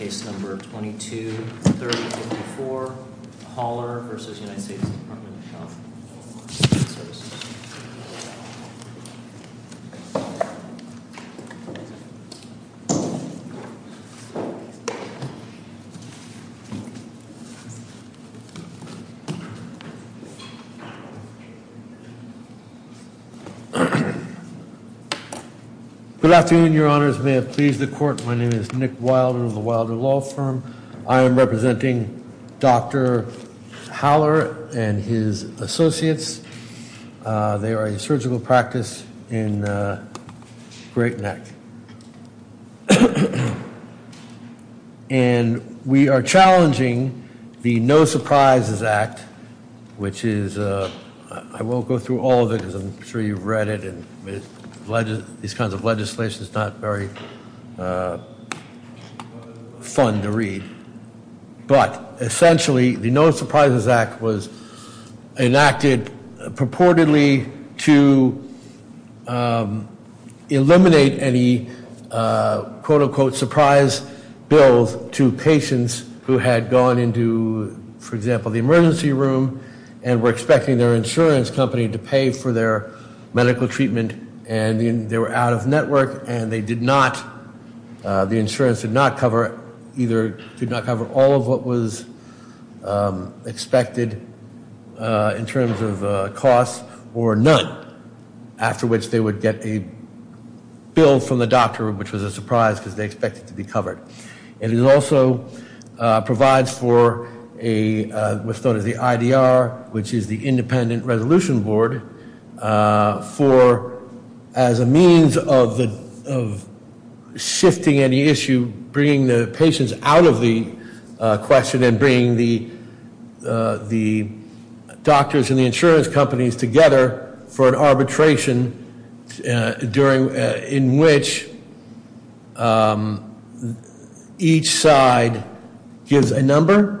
Case No. 22-3054, Haller v. U.S. Department of Health and Human Services Good afternoon, your honors. May it please the court, my name is Nick Wilder of the Wilder Law Firm. I am representing Dr. Haller and his associates. They are a surgical practice in Great Neck. And we are challenging the No Surprises Act, which is, I won't go through all of it because I'm sure you've read it. These kinds of legislation is not very fun to read. But essentially, the No Surprises Act was enacted purportedly to eliminate any, quote unquote, surprise bills to patients who had gone into, for example, the emergency room and were expecting their insurance company to pay for their medical treatment and they were out of network and they did not, the insurance did not cover, either did not cover all of what was expected in terms of costs or none. After which they would get a bill from the doctor, which was a surprise because they expected to be covered. And it also provides for a, what's known as the IDR, which is the Independent Resolution Board, for, as a means of shifting any issue, bringing the patients out of the question and bringing the doctors and the insurance companies together for an arbitration during, in which each side gives a number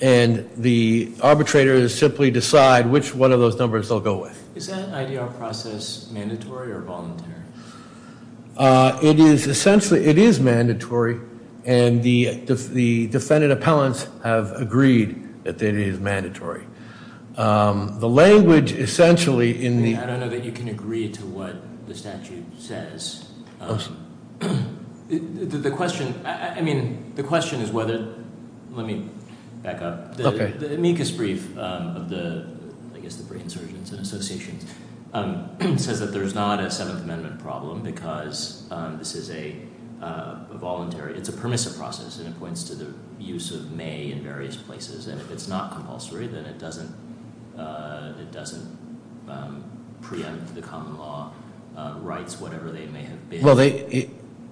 and the arbitrators simply decide which one of those numbers they'll go with. Is that IDR process mandatory or voluntary? It is essentially, it is mandatory and the defendant appellants have agreed that it is mandatory. The language essentially in the- Let me back up. The amicus brief of the, I guess the brain surgeons and associations, says that there's not a Seventh Amendment problem because this is a voluntary, it's a permissive process and it points to the use of may in various places and if it's not compulsory then it doesn't, it doesn't preempt the common law rights, whatever they may have been.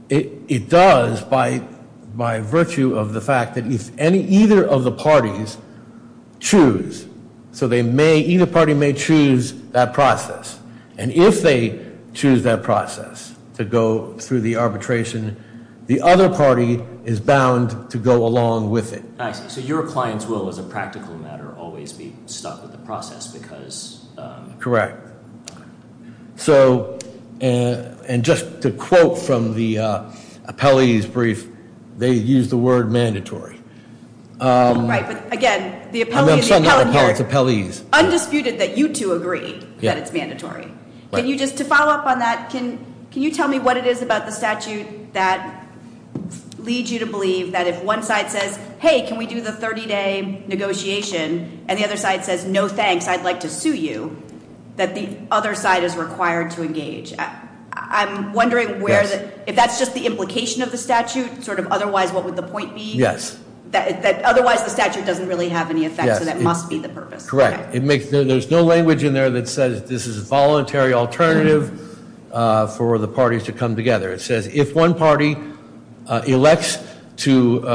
It does by virtue of the fact that if any, either of the parties choose, so they may, either party may choose that process and if they choose that process to go through the arbitration, the other party is bound to go along with it. So your clients will, as a practical matter, always be stuck with the process because- The quote from the appellee's brief, they use the word mandatory. Right, but again, the appellee- I'm not saying that appellate's appellees. Undisputed that you two agree that it's mandatory. Can you just, to follow up on that, can you tell me what it is about the statute that leads you to believe that if one side says, hey, can we do the 30 day negotiation, and the other side says, no thanks, I'd like to sue you, that the other side is required to engage. I'm wondering where, if that's just the implication of the statute, sort of otherwise what would the point be? Yes. Otherwise the statute doesn't really have any effect, so that must be the purpose. Correct. There's no language in there that says this is a voluntary alternative for the parties to come together. It says if one party elects to-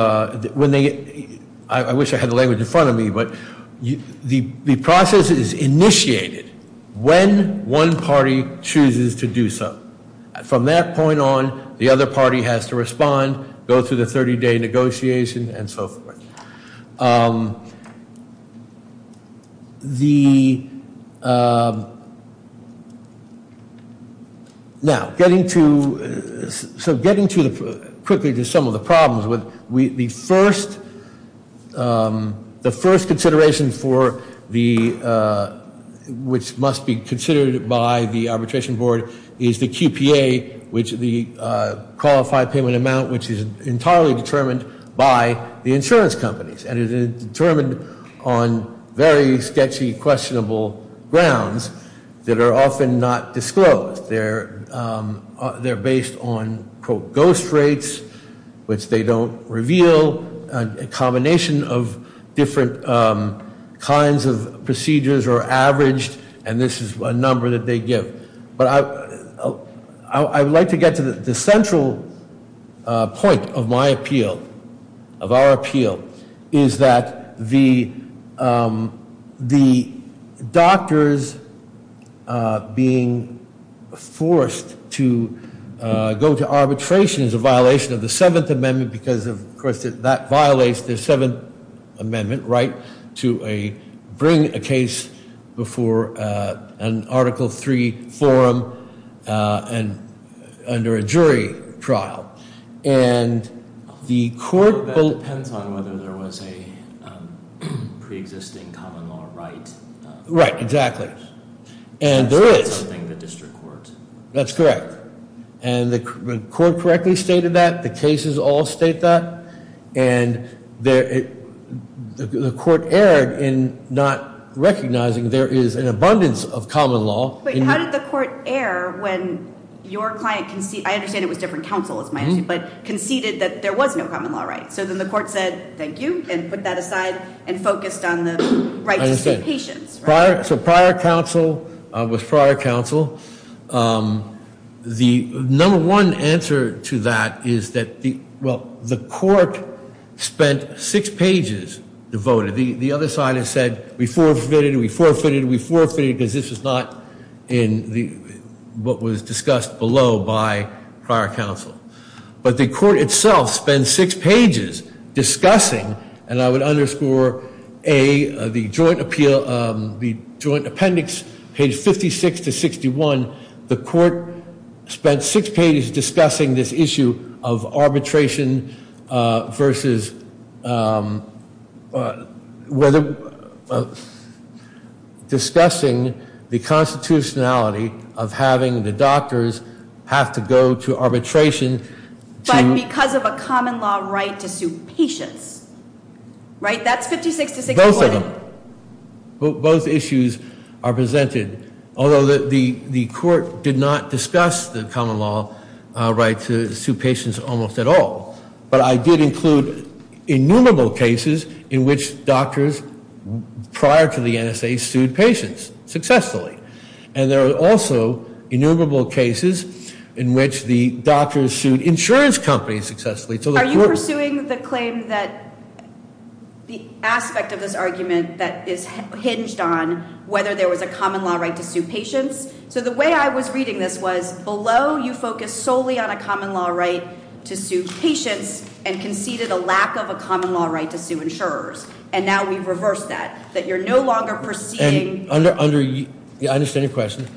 I wish I had the language in front of me, but the process is initiated when one party chooses to do so. From that point on, the other party has to respond, go through the 30 day negotiation, and so forth. Now, getting to, quickly to some of the problems, the first consideration which must be considered by the arbitration board is the QPA, which is the Qualified Payment Amount, which is entirely determined by the insurance companies. And it is determined on very sketchy, questionable grounds that are often not disclosed. They're based on, quote, ghost rates, which they don't reveal. A combination of different kinds of procedures are averaged, and this is a number that they give. But I would like to get to the central point of my appeal, of our appeal, is that the doctors being forced to go to arbitration is a violation of the 7th Amendment, because, of course, that violates the 7th Amendment right to bring a case before an Article 3 forum and under a jury trial. And the court- That depends on whether there was a pre-existing common law right. Right, exactly. And there is. Something the district court- That's correct. And the court correctly stated that. The cases all state that. And the court erred in not recognizing there is an abundance of common law. How did the court err when your client conceded-I understand it was different counsel, it's my issue- but conceded that there was no common law right? So then the court said, thank you, and put that aside and focused on the right to stay patient. So prior counsel was prior counsel. The number one answer to that is that the court spent six pages devoted. The other side has said, we forfeited, we forfeited, we forfeited, because this is not in what was discussed below by prior counsel. But the court itself spent six pages discussing, and I would underscore A, the joint appeal-the joint appendix page 56 to 61. The court spent six pages discussing this issue of arbitration versus whether- But because of a common law right to sue patients, right? That's 56 to 61. Both of them. Both issues are presented. Although the court did not discuss the common law right to sue patients almost at all. But I did include innumerable cases in which doctors prior to the NSA sued patients successfully. And there are also innumerable cases in which the doctors sued insurance companies successfully. So the court- Are you pursuing the claim that the aspect of this argument that is hinged on whether there was a common law right to sue patients? So the way I was reading this was, below you focused solely on a common law right to sue patients, and conceded a lack of a common law right to sue insurers. And now we've reversed that, that you're no longer perceiving- Yeah, I understand your question.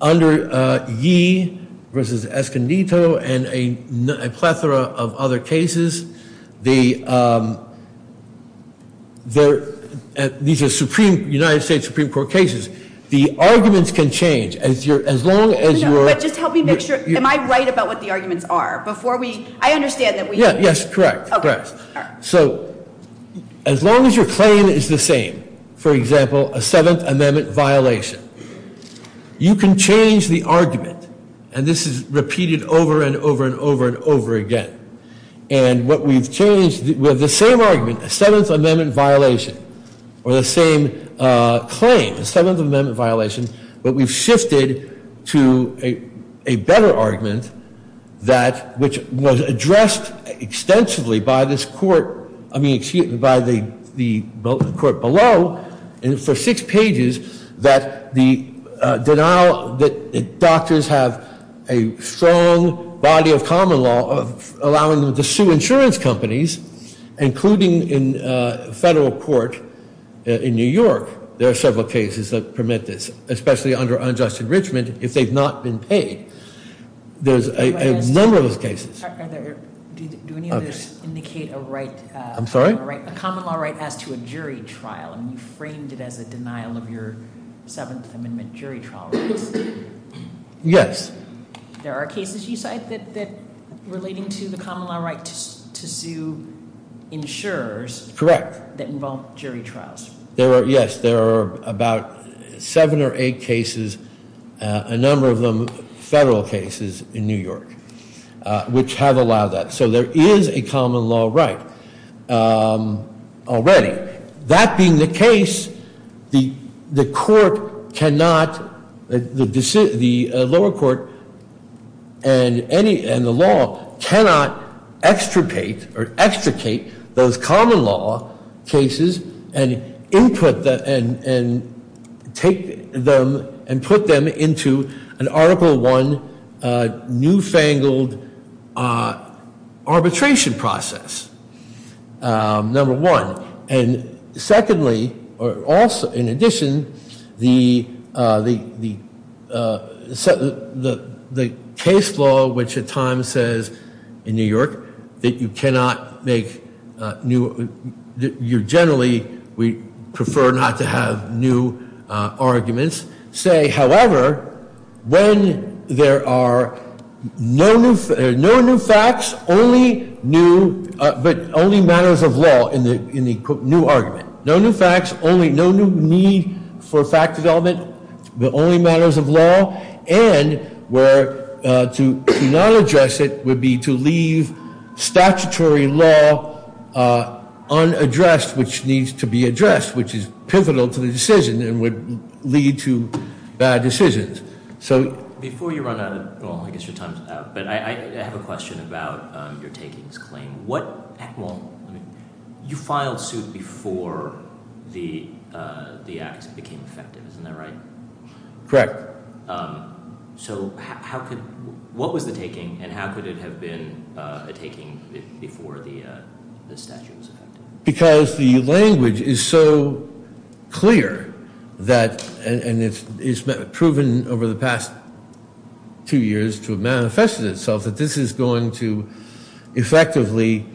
Under Yee versus Escondido and a plethora of other cases, these are United States Supreme Court cases. The arguments can change as long as you're- No, but just help me make sure-am I right about what the arguments are? Before we-I understand that we- Yeah, yes, correct. So as long as your claim is the same. For example, a Seventh Amendment violation. You can change the argument. And this is repeated over and over and over and over again. And what we've changed-we have the same argument, a Seventh Amendment violation. Or the same claim, a Seventh Amendment violation. But we've shifted to a better argument that-which was addressed extensively by this court-I mean, by the court below, and for six pages, that the denial that doctors have a strong body of common law allowing them to sue insurance companies, including in federal court in New York. There are several cases that permit this, especially under unjust enrichment, if they've not been paid. There's a number of those cases. Do any of those indicate a right- I'm sorry? A common law right as to a jury trial? I mean, you framed it as a denial of your Seventh Amendment jury trial rights. Yes. There are cases you cite that-relating to the common law right to sue insurers- Correct. That involve jury trials. Yes, there are about seven or eight cases, a number of them federal cases in New York, which have allowed that. So there is a common law right already. That being the case, the court cannot-the lower court and any-and the law cannot extricate those common law cases and take them and put them into an Article I newfangled arbitration process, number one. And secondly, or also in addition, the case law, which at times says in New York that you cannot make new- you generally prefer not to have new arguments, say, however, when there are no new facts, but only matters of law in the new argument. No new facts, no new need for fact development, but only matters of law. And where to not address it would be to leave statutory law unaddressed, which needs to be addressed, which is pivotal to the decision and would lead to bad decisions. Before you run out of-well, I guess your time is up, but I have a question about your takings claim. What-well, you filed suit before the act became effective. Isn't that right? Correct. So how could-what was the taking and how could it have been a taking before the statute was effective? Because the language is so clear that-and it's proven over the past two years to have manifested itself that this is going to effectively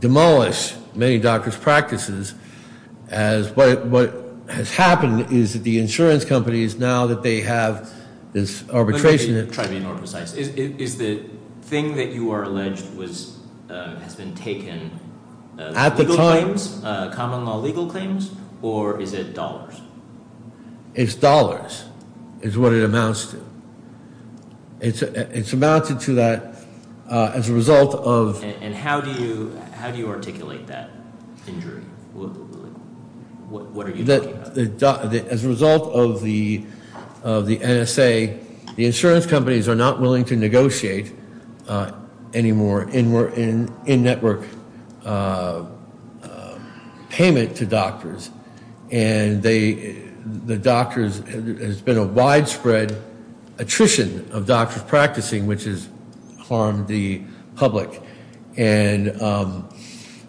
demolish many doctors' practices as- what has happened is that the insurance companies, now that they have this arbitration- Is the thing that you are alleged has been taken- At the time- Common law legal claims, or is it dollars? It's dollars is what it amounts to. It's amounted to that as a result of- And how do you articulate that injury? What are you talking about? As a result of the NSA, the insurance companies are not willing to negotiate anymore in-network payment to doctors. And the doctors-there's been a widespread attrition of doctors practicing, which has harmed the public. And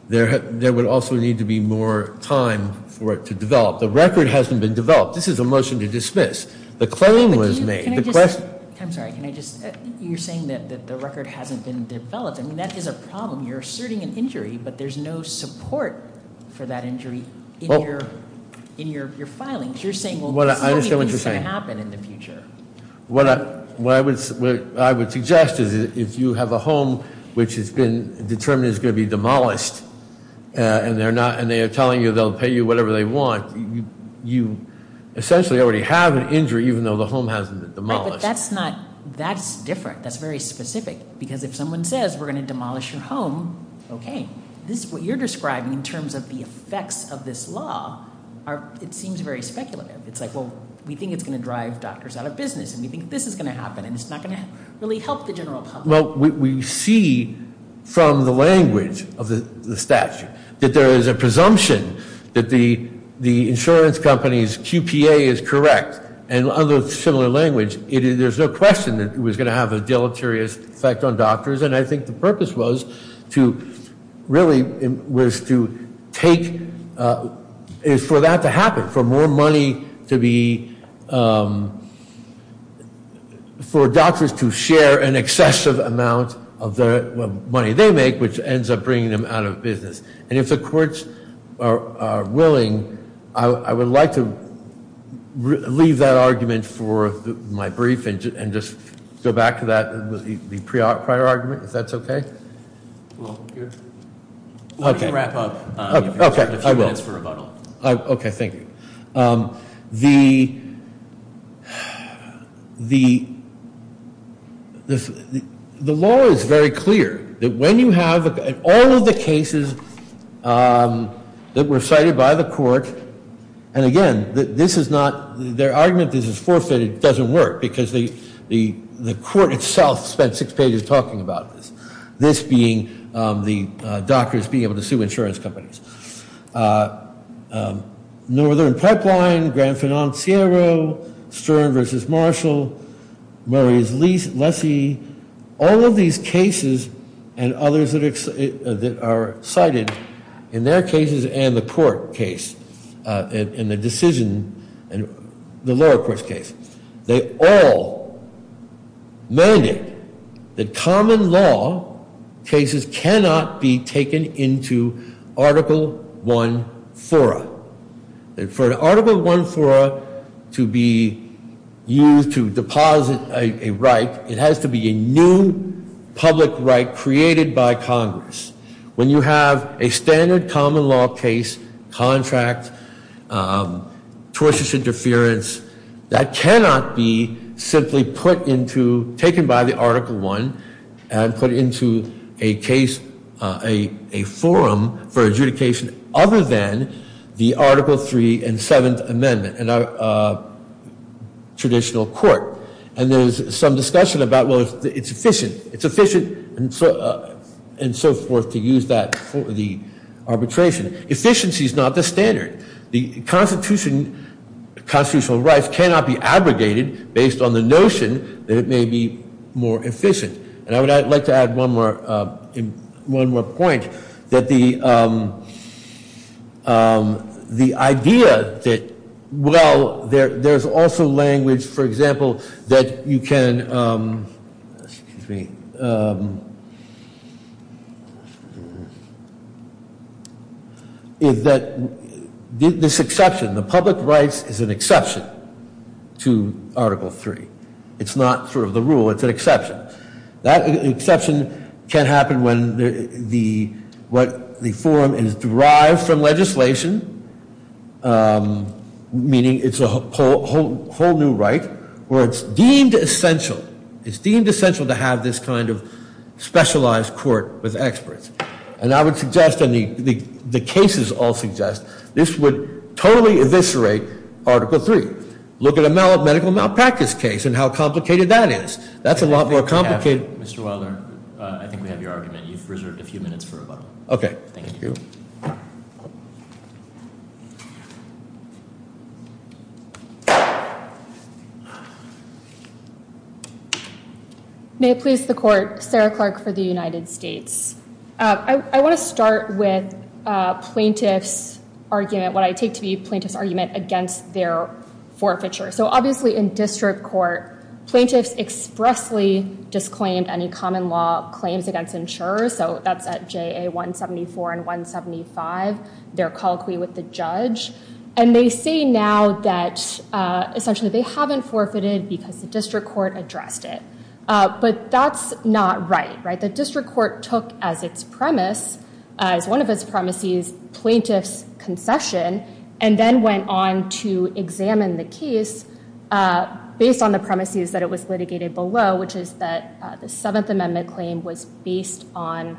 there would also need to be more time for it to develop. The record hasn't been developed. This is a motion to dismiss. The claim was made. Can I just-I'm sorry. Can I just-you're saying that the record hasn't been developed. I mean, that is a problem. You're asserting an injury, but there's no support for that injury in your filings. You're saying, well, so many things are going to happen in the future. What I would suggest is if you have a home which has been determined is going to be demolished, and they are telling you they'll pay you whatever they want, you essentially already have an injury, even though the home hasn't been demolished. Right, but that's not-that's different. That's very specific, because if someone says we're going to demolish your home, okay. This is what you're describing in terms of the effects of this law. It seems very speculative. It's like, well, we think it's going to drive doctors out of business, and we think this is going to happen, and it's not going to really help the general public. Well, we see from the language of the statute that there is a presumption that the insurance company's QPA is correct, and under similar language, there's no question that it was going to have a deleterious effect on doctors, and I think the purpose was to really was to take-for that to happen, for more money to be-for doctors to share an excessive amount of the money they make, which ends up bringing them out of business, and if the courts are willing, I would like to leave that argument for my brief and just go back to that prior argument, if that's okay. Well, here. Why don't you wrap up? Okay, I will. You have a few minutes for rebuttal. Okay, thank you. The law is very clear that when you have all of the cases that were cited by the court, and again, this is not-their argument that this is forfeited doesn't work, because the court itself spent six pages talking about this, this being the doctors being able to sue insurance companies. Northern Pipeline, Grand Financiero, Stern v. Marshall, Murray's Lessee, all of these cases and others that are cited in their cases and the court case, in the decision-the lower court case, they all mandated that common law cases cannot be taken into Article I fora. For an Article I fora to be used to deposit a right, it has to be a new public right created by Congress. When you have a standard common law case, contract, tortious interference, that cannot be simply put into-taken by the Article I and put into a case-a forum for adjudication other than the Article III and Seventh Amendment in a traditional court. And there's some discussion about, well, it's efficient, it's efficient, and so forth to use that for the arbitration. Efficiency is not the standard. The Constitution-constitutional rights cannot be abrogated based on the notion that it may be more efficient. And I would like to add one more point, that the idea that, well, there's also language, for example, that you can-excuse me- is that this exception, the public rights is an exception to Article III. It's not sort of the rule, it's an exception. That exception can happen when the-what the forum is derived from legislation, meaning it's a whole new right, where it's deemed essential-it's deemed essential to have this kind of specialized court with experts. And I would suggest, and the cases all suggest, this would totally eviscerate Article III. Look at a medical malpractice case and how complicated that is. That's a lot more complicated- Mr. Wilder, I think we have your argument. You've reserved a few minutes for rebuttal. Okay. Thank you. Thank you. May it please the court, Sarah Clark for the United States. I want to start with plaintiff's argument, what I take to be plaintiff's argument against their forfeiture. So obviously in district court, plaintiffs expressly disclaimed any common law claims against insurers. So that's at JA 174 and 175. They're colloquy with the judge. And they say now that essentially they haven't forfeited because the district court addressed it. But that's not right, right? The district court took as its premise, as one of its premises, plaintiff's concession, and then went on to examine the case based on the premises that it was litigated below, which is that the Seventh Amendment claim was based on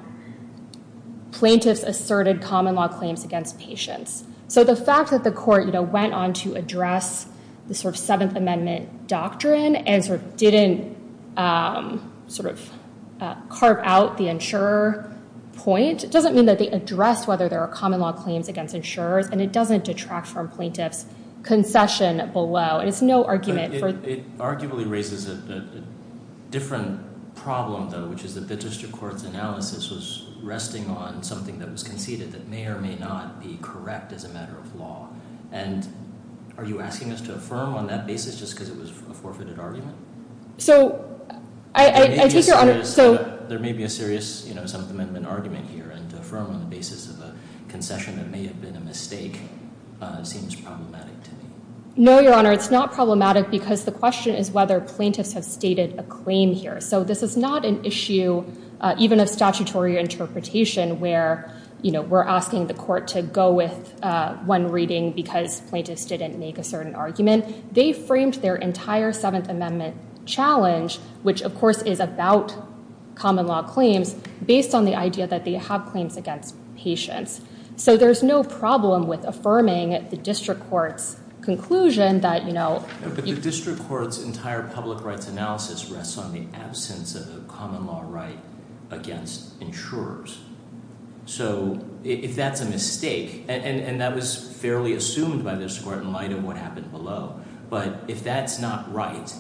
plaintiff's asserted common law claims against patients. So the fact that the court went on to address the sort of Seventh Amendment doctrine and sort of didn't sort of carve out the insurer point, it doesn't mean that they addressed whether there are common law claims against insurers, and it doesn't detract from plaintiff's concession below. And it's no argument for- It arguably raises a different problem, though, which is that the district court's analysis was resting on something that was conceded that may or may not be correct as a matter of law. And are you asking us to affirm on that basis just because it was a forfeited argument? So I take your honor- There may be a serious Seventh Amendment argument here, and to affirm on the basis of a concession that may have been a mistake seems problematic to me. No, your honor, it's not problematic, because the question is whether plaintiffs have stated a claim here. So this is not an issue, even of statutory interpretation, where we're asking the court to go with one reading because plaintiffs didn't make a certain argument. They framed their entire Seventh Amendment challenge, which of course is about common law claims, based on the idea that they have claims against patients. So there's no problem with affirming the district court's conclusion that- But the district court's entire public rights analysis rests on the absence of a common law right against insurers. So if that's a mistake, and that was fairly assumed by this court in light of what happened below, but if that's not right,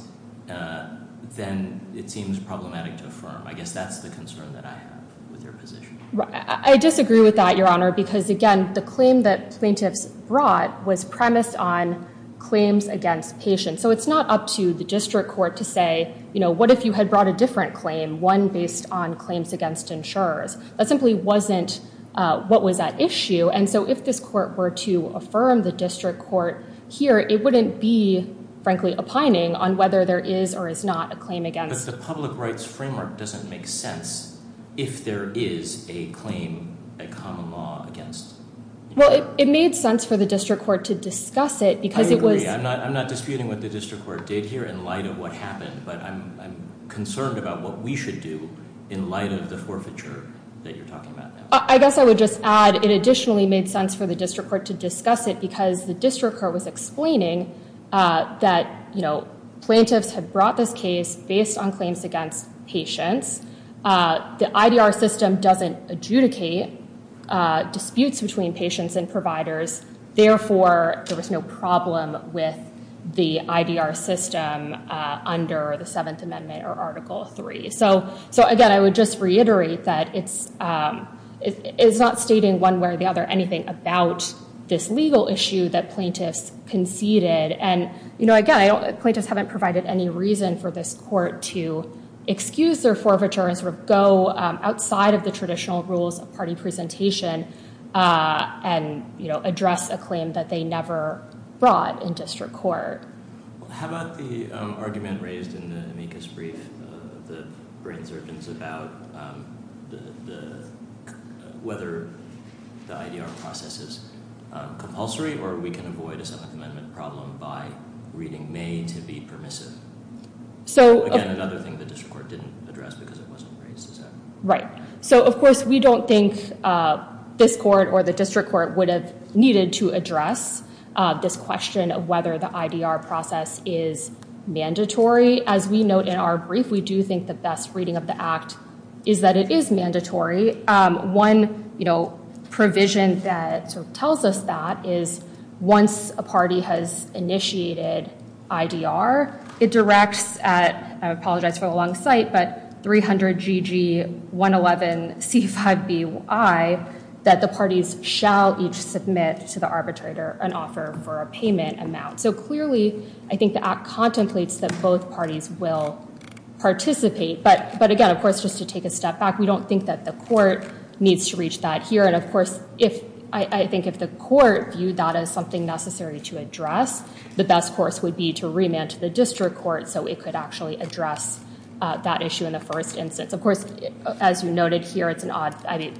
then it seems problematic to affirm. I guess that's the concern that I have with your position. I disagree with that, your honor, because again, the claim that plaintiffs brought was premised on claims against patients. So it's not up to the district court to say, you know, what if you had brought a different claim, one based on claims against insurers? That simply wasn't what was at issue. And so if this court were to affirm the district court here, it wouldn't be, frankly, opining on whether there is or is not a claim against- But the public rights framework doesn't make sense if there is a claim, a common law against insurers. Well, it made sense for the district court to discuss it because it was- I agree. I'm not disputing what the district court did here in light of what happened, but I'm concerned about what we should do in light of the forfeiture that you're talking about now. I guess I would just add it additionally made sense for the district court to discuss it because the district court was explaining that, you know, it was premised on claims against patients. The IDR system doesn't adjudicate disputes between patients and providers. Therefore, there was no problem with the IDR system under the Seventh Amendment or Article III. So, again, I would just reiterate that it's not stating one way or the other anything about this legal issue that plaintiffs conceded. And, you know, again, plaintiffs haven't provided any reason for this court to excuse their forfeiture and sort of go outside of the traditional rules of party presentation and, you know, address a claim that they never brought in district court. How about the argument raised in the amicus brief of the brain surgeons about whether the IDR process is compulsory or we can avoid a Seventh Amendment problem by reading may to be permissive. So, again, another thing the district court didn't address because it wasn't raised. Right. So, of course, we don't think this court or the district court would have needed to address this question of whether the IDR process is mandatory. As we note in our brief, we do think the best reading of the act is that it is mandatory. One, you know, provision that tells us that is once a party has initiated IDR, it directs, I apologize for the long site, but 300 GG 111 C5BY that the parties shall each submit to the arbitrator an offer for a payment amount. So, clearly, I think the act contemplates that both parties will participate. But again, of course, just to take a step back, we don't think that the court needs to reach that here. And, of course, if I think if the court viewed that as something necessary to address, the best course would be to remand to the district court so it could actually address that issue in the first instance. Of course, as you noted here, it's an odd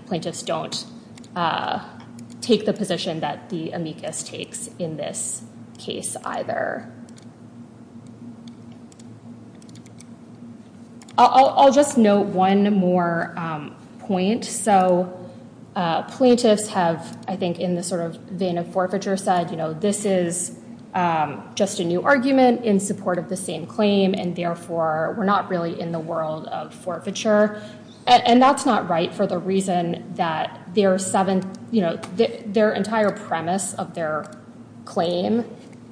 plaintiffs don't take the position that the amicus takes in this case either. I'll just note one more point. So plaintiffs have, I think, in the sort of vein of forfeiture side, you know, this is just a new argument in support of the same claim. And, therefore, we're not really in the world of forfeiture. And that's not right for the reason that their entire premise of their claim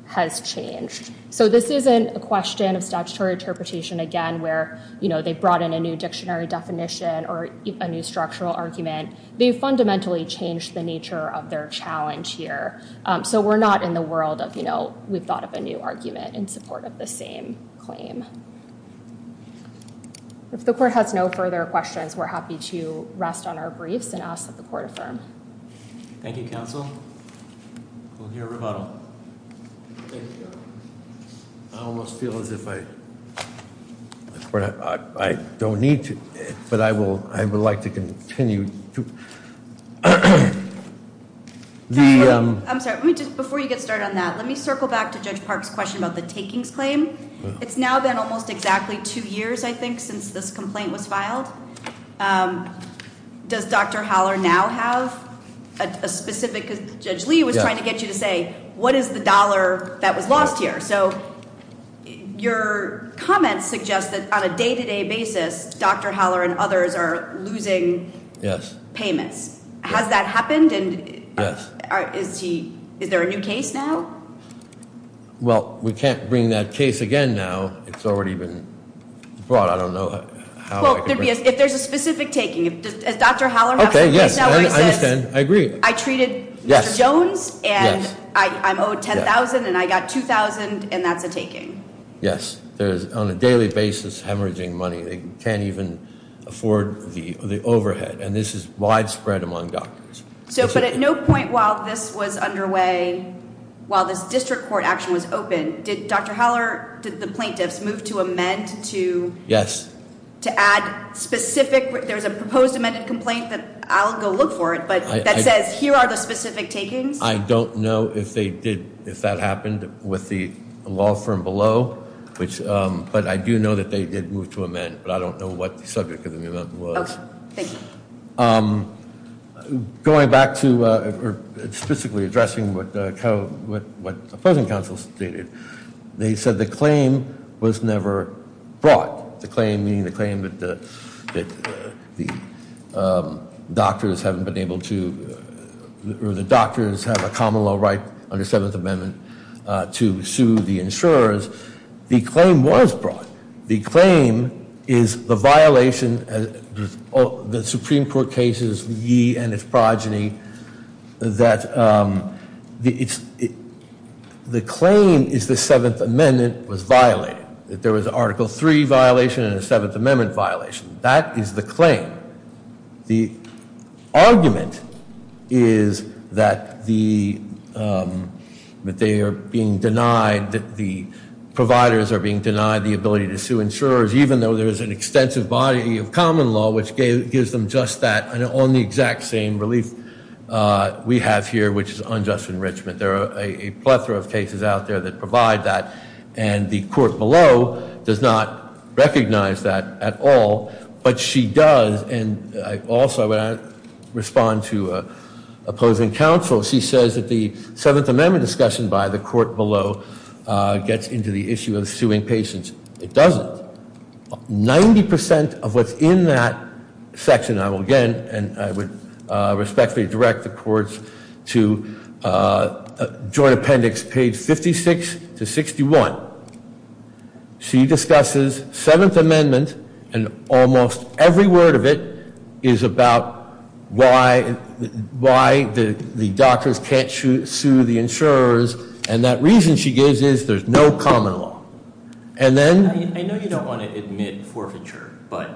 has changed. So this isn't a question of statutory interpretation, again, where, you know, they brought in a new dictionary definition or a new structural argument. They fundamentally changed the nature of their challenge here. So we're not in the world of, you know, we've thought of a new argument in support of the same claim. If the court has no further questions, we're happy to rest on our briefs and ask that the court affirm. Thank you, counsel. We'll hear rebuttal. I almost feel as if I don't need to, but I would like to continue. I'm sorry. Before you get started on that, let me circle back to Judge Park's question about the takings claim. It's now been almost exactly two years, I think, since this complaint was filed. Does Dr. Howler now have a specific, because Judge Lee was trying to get you to say, what is the dollar that was lost here? So your comments suggest that on a day-to-day basis, Dr. Howler and others are losing payments. Has that happened? And is there a new case now? Well, we can't bring that case again now. It's already been brought. I don't know how. Well, if there's a specific taking. Does Dr. Howler have a case now where he says, I treated Mr. Jones. And I'm owed $10,000, and I got $2,000, and that's a taking? Yes. There is, on a daily basis, hemorrhaging money. They can't even afford the overhead. And this is widespread among doctors. But at no point while this was underway, while this district court action was open, did Dr. Howler, did the plaintiffs move to amend to add specific? There's a proposed amended complaint that I'll go look for it, but that says, here are the specific takings. I don't know if that happened with the law firm below. But I do know that they did move to amend. But I don't know what the subject of the amendment was. Okay. Thank you. Going back to specifically addressing what opposing counsel stated, they said the claim was never brought. The claim meaning the claim that the doctors haven't been able to, or the doctors have a common law right under Seventh Amendment to sue the insurers. The claim was brought. The claim is the violation, the Supreme Court cases, ye and its progeny, that the claim is the Seventh Amendment was violated. That there was an Article III violation and a Seventh Amendment violation. That is the claim. The argument is that they are being denied, that the providers are being denied the ability to sue insurers, even though there is an extensive body of common law which gives them just that, and only exact same relief we have here, which is unjust enrichment. There are a plethora of cases out there that provide that. And the court below does not recognize that at all. But she does, and also when I respond to opposing counsel, she says that the Seventh Amendment discussion by the court below gets into the issue of suing patients. It doesn't. Ninety percent of what's in that section, I will again, and I would respectfully direct the courts to Joint Appendix page 56 to 61. So, she discusses Seventh Amendment, and almost every word of it is about why the doctors can't sue the insurers. And that reason she gives is there's no common law. And then- I know you don't want to admit forfeiture, but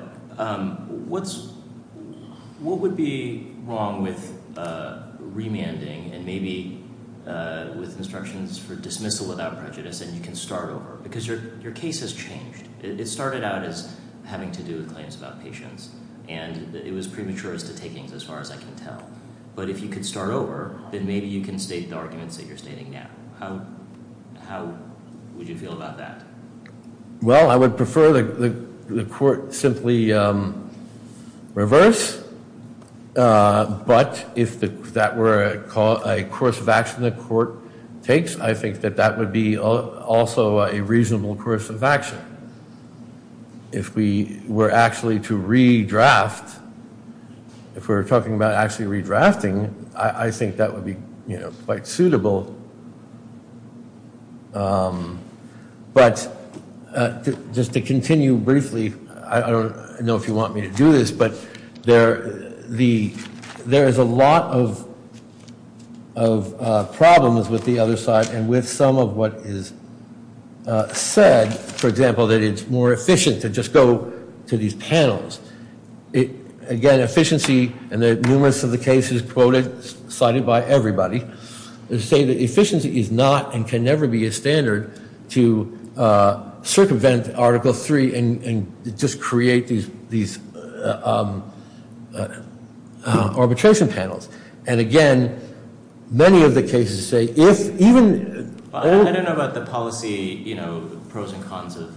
what would be wrong with remanding, and maybe with instructions for dismissal without prejudice, and you can start over? Because your case has changed. It started out as having to do with claims about patients, and it was premature as to takings as far as I can tell. But if you could start over, then maybe you can state the arguments that you're stating now. How would you feel about that? Well, I would prefer the court simply reverse, but if that were a course of action the court takes, I think that that would be also a reasonable course of action. If we were actually to redraft, if we were talking about actually redrafting, I think that would be quite suitable. But just to continue briefly, I don't know if you want me to do this, but there is a lot of problems with the other side, and with some of what is said, for example, that it's more efficient to just go to these panels. Again, efficiency, and numerous of the cases quoted, cited by everybody, say that efficiency is not and can never be a standard to circumvent Article III and just create these arbitration panels. And again, many of the cases say if even... I don't know about the policy pros and cons of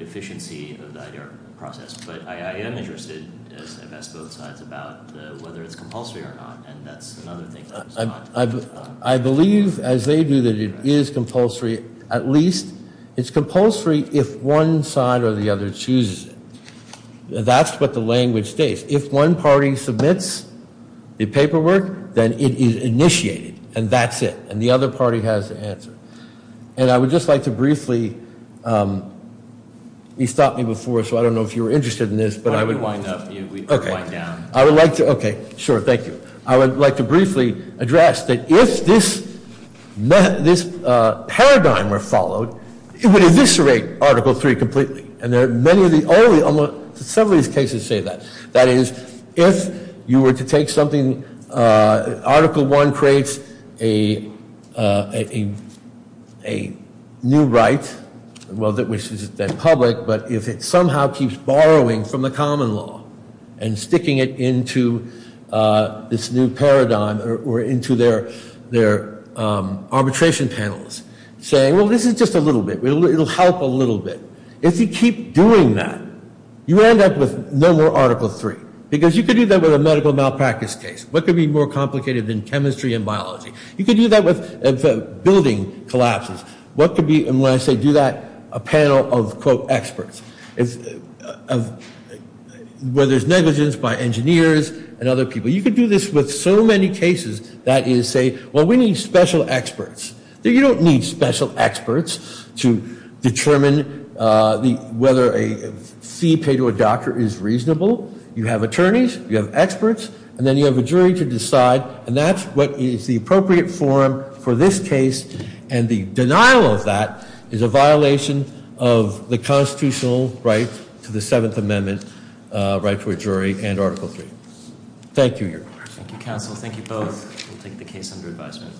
efficiency of the process, but I am interested as I've asked both sides about whether it's compulsory or not, and that's another thing. I believe, as they do, that it is compulsory at least. It's compulsory if one side or the other chooses it. That's what the language states. If one party submits the paperwork, then it is initiated, and that's it. And the other party has the answer. And I would just like to briefly... You stopped me before, so I don't know if you were interested in this, but I would... I would wind up. Okay. I would like to... Okay, sure, thank you. I would like to briefly address that if this paradigm were followed, it would eviscerate Article III completely. And many of the only... Some of these cases say that. That is, if you were to take something... Article I creates a new right, which is then public, but if it somehow keeps borrowing from the common law and sticking it into this new paradigm or into their arbitration panels, saying, well, this is just a little bit. It will help a little bit. If you keep doing that, you end up with no more Article III, because you could do that with a medical malpractice case. What could be more complicated than chemistry and biology? You could do that with building collapses. What could be... And when I say do that, a panel of, quote, experts, where there's negligence by engineers and other people. You could do this with so many cases that you say, well, we need special experts. You don't need special experts to determine whether a fee paid to a doctor is reasonable. You have attorneys. You have experts. And then you have a jury to decide, and that's what is the appropriate form for this case, and the denial of that is a violation of the constitutional right to the Seventh Amendment, right to a jury, and Article III. Thank you. Thank you, counsel. Thank you both. We'll take the case under advisement.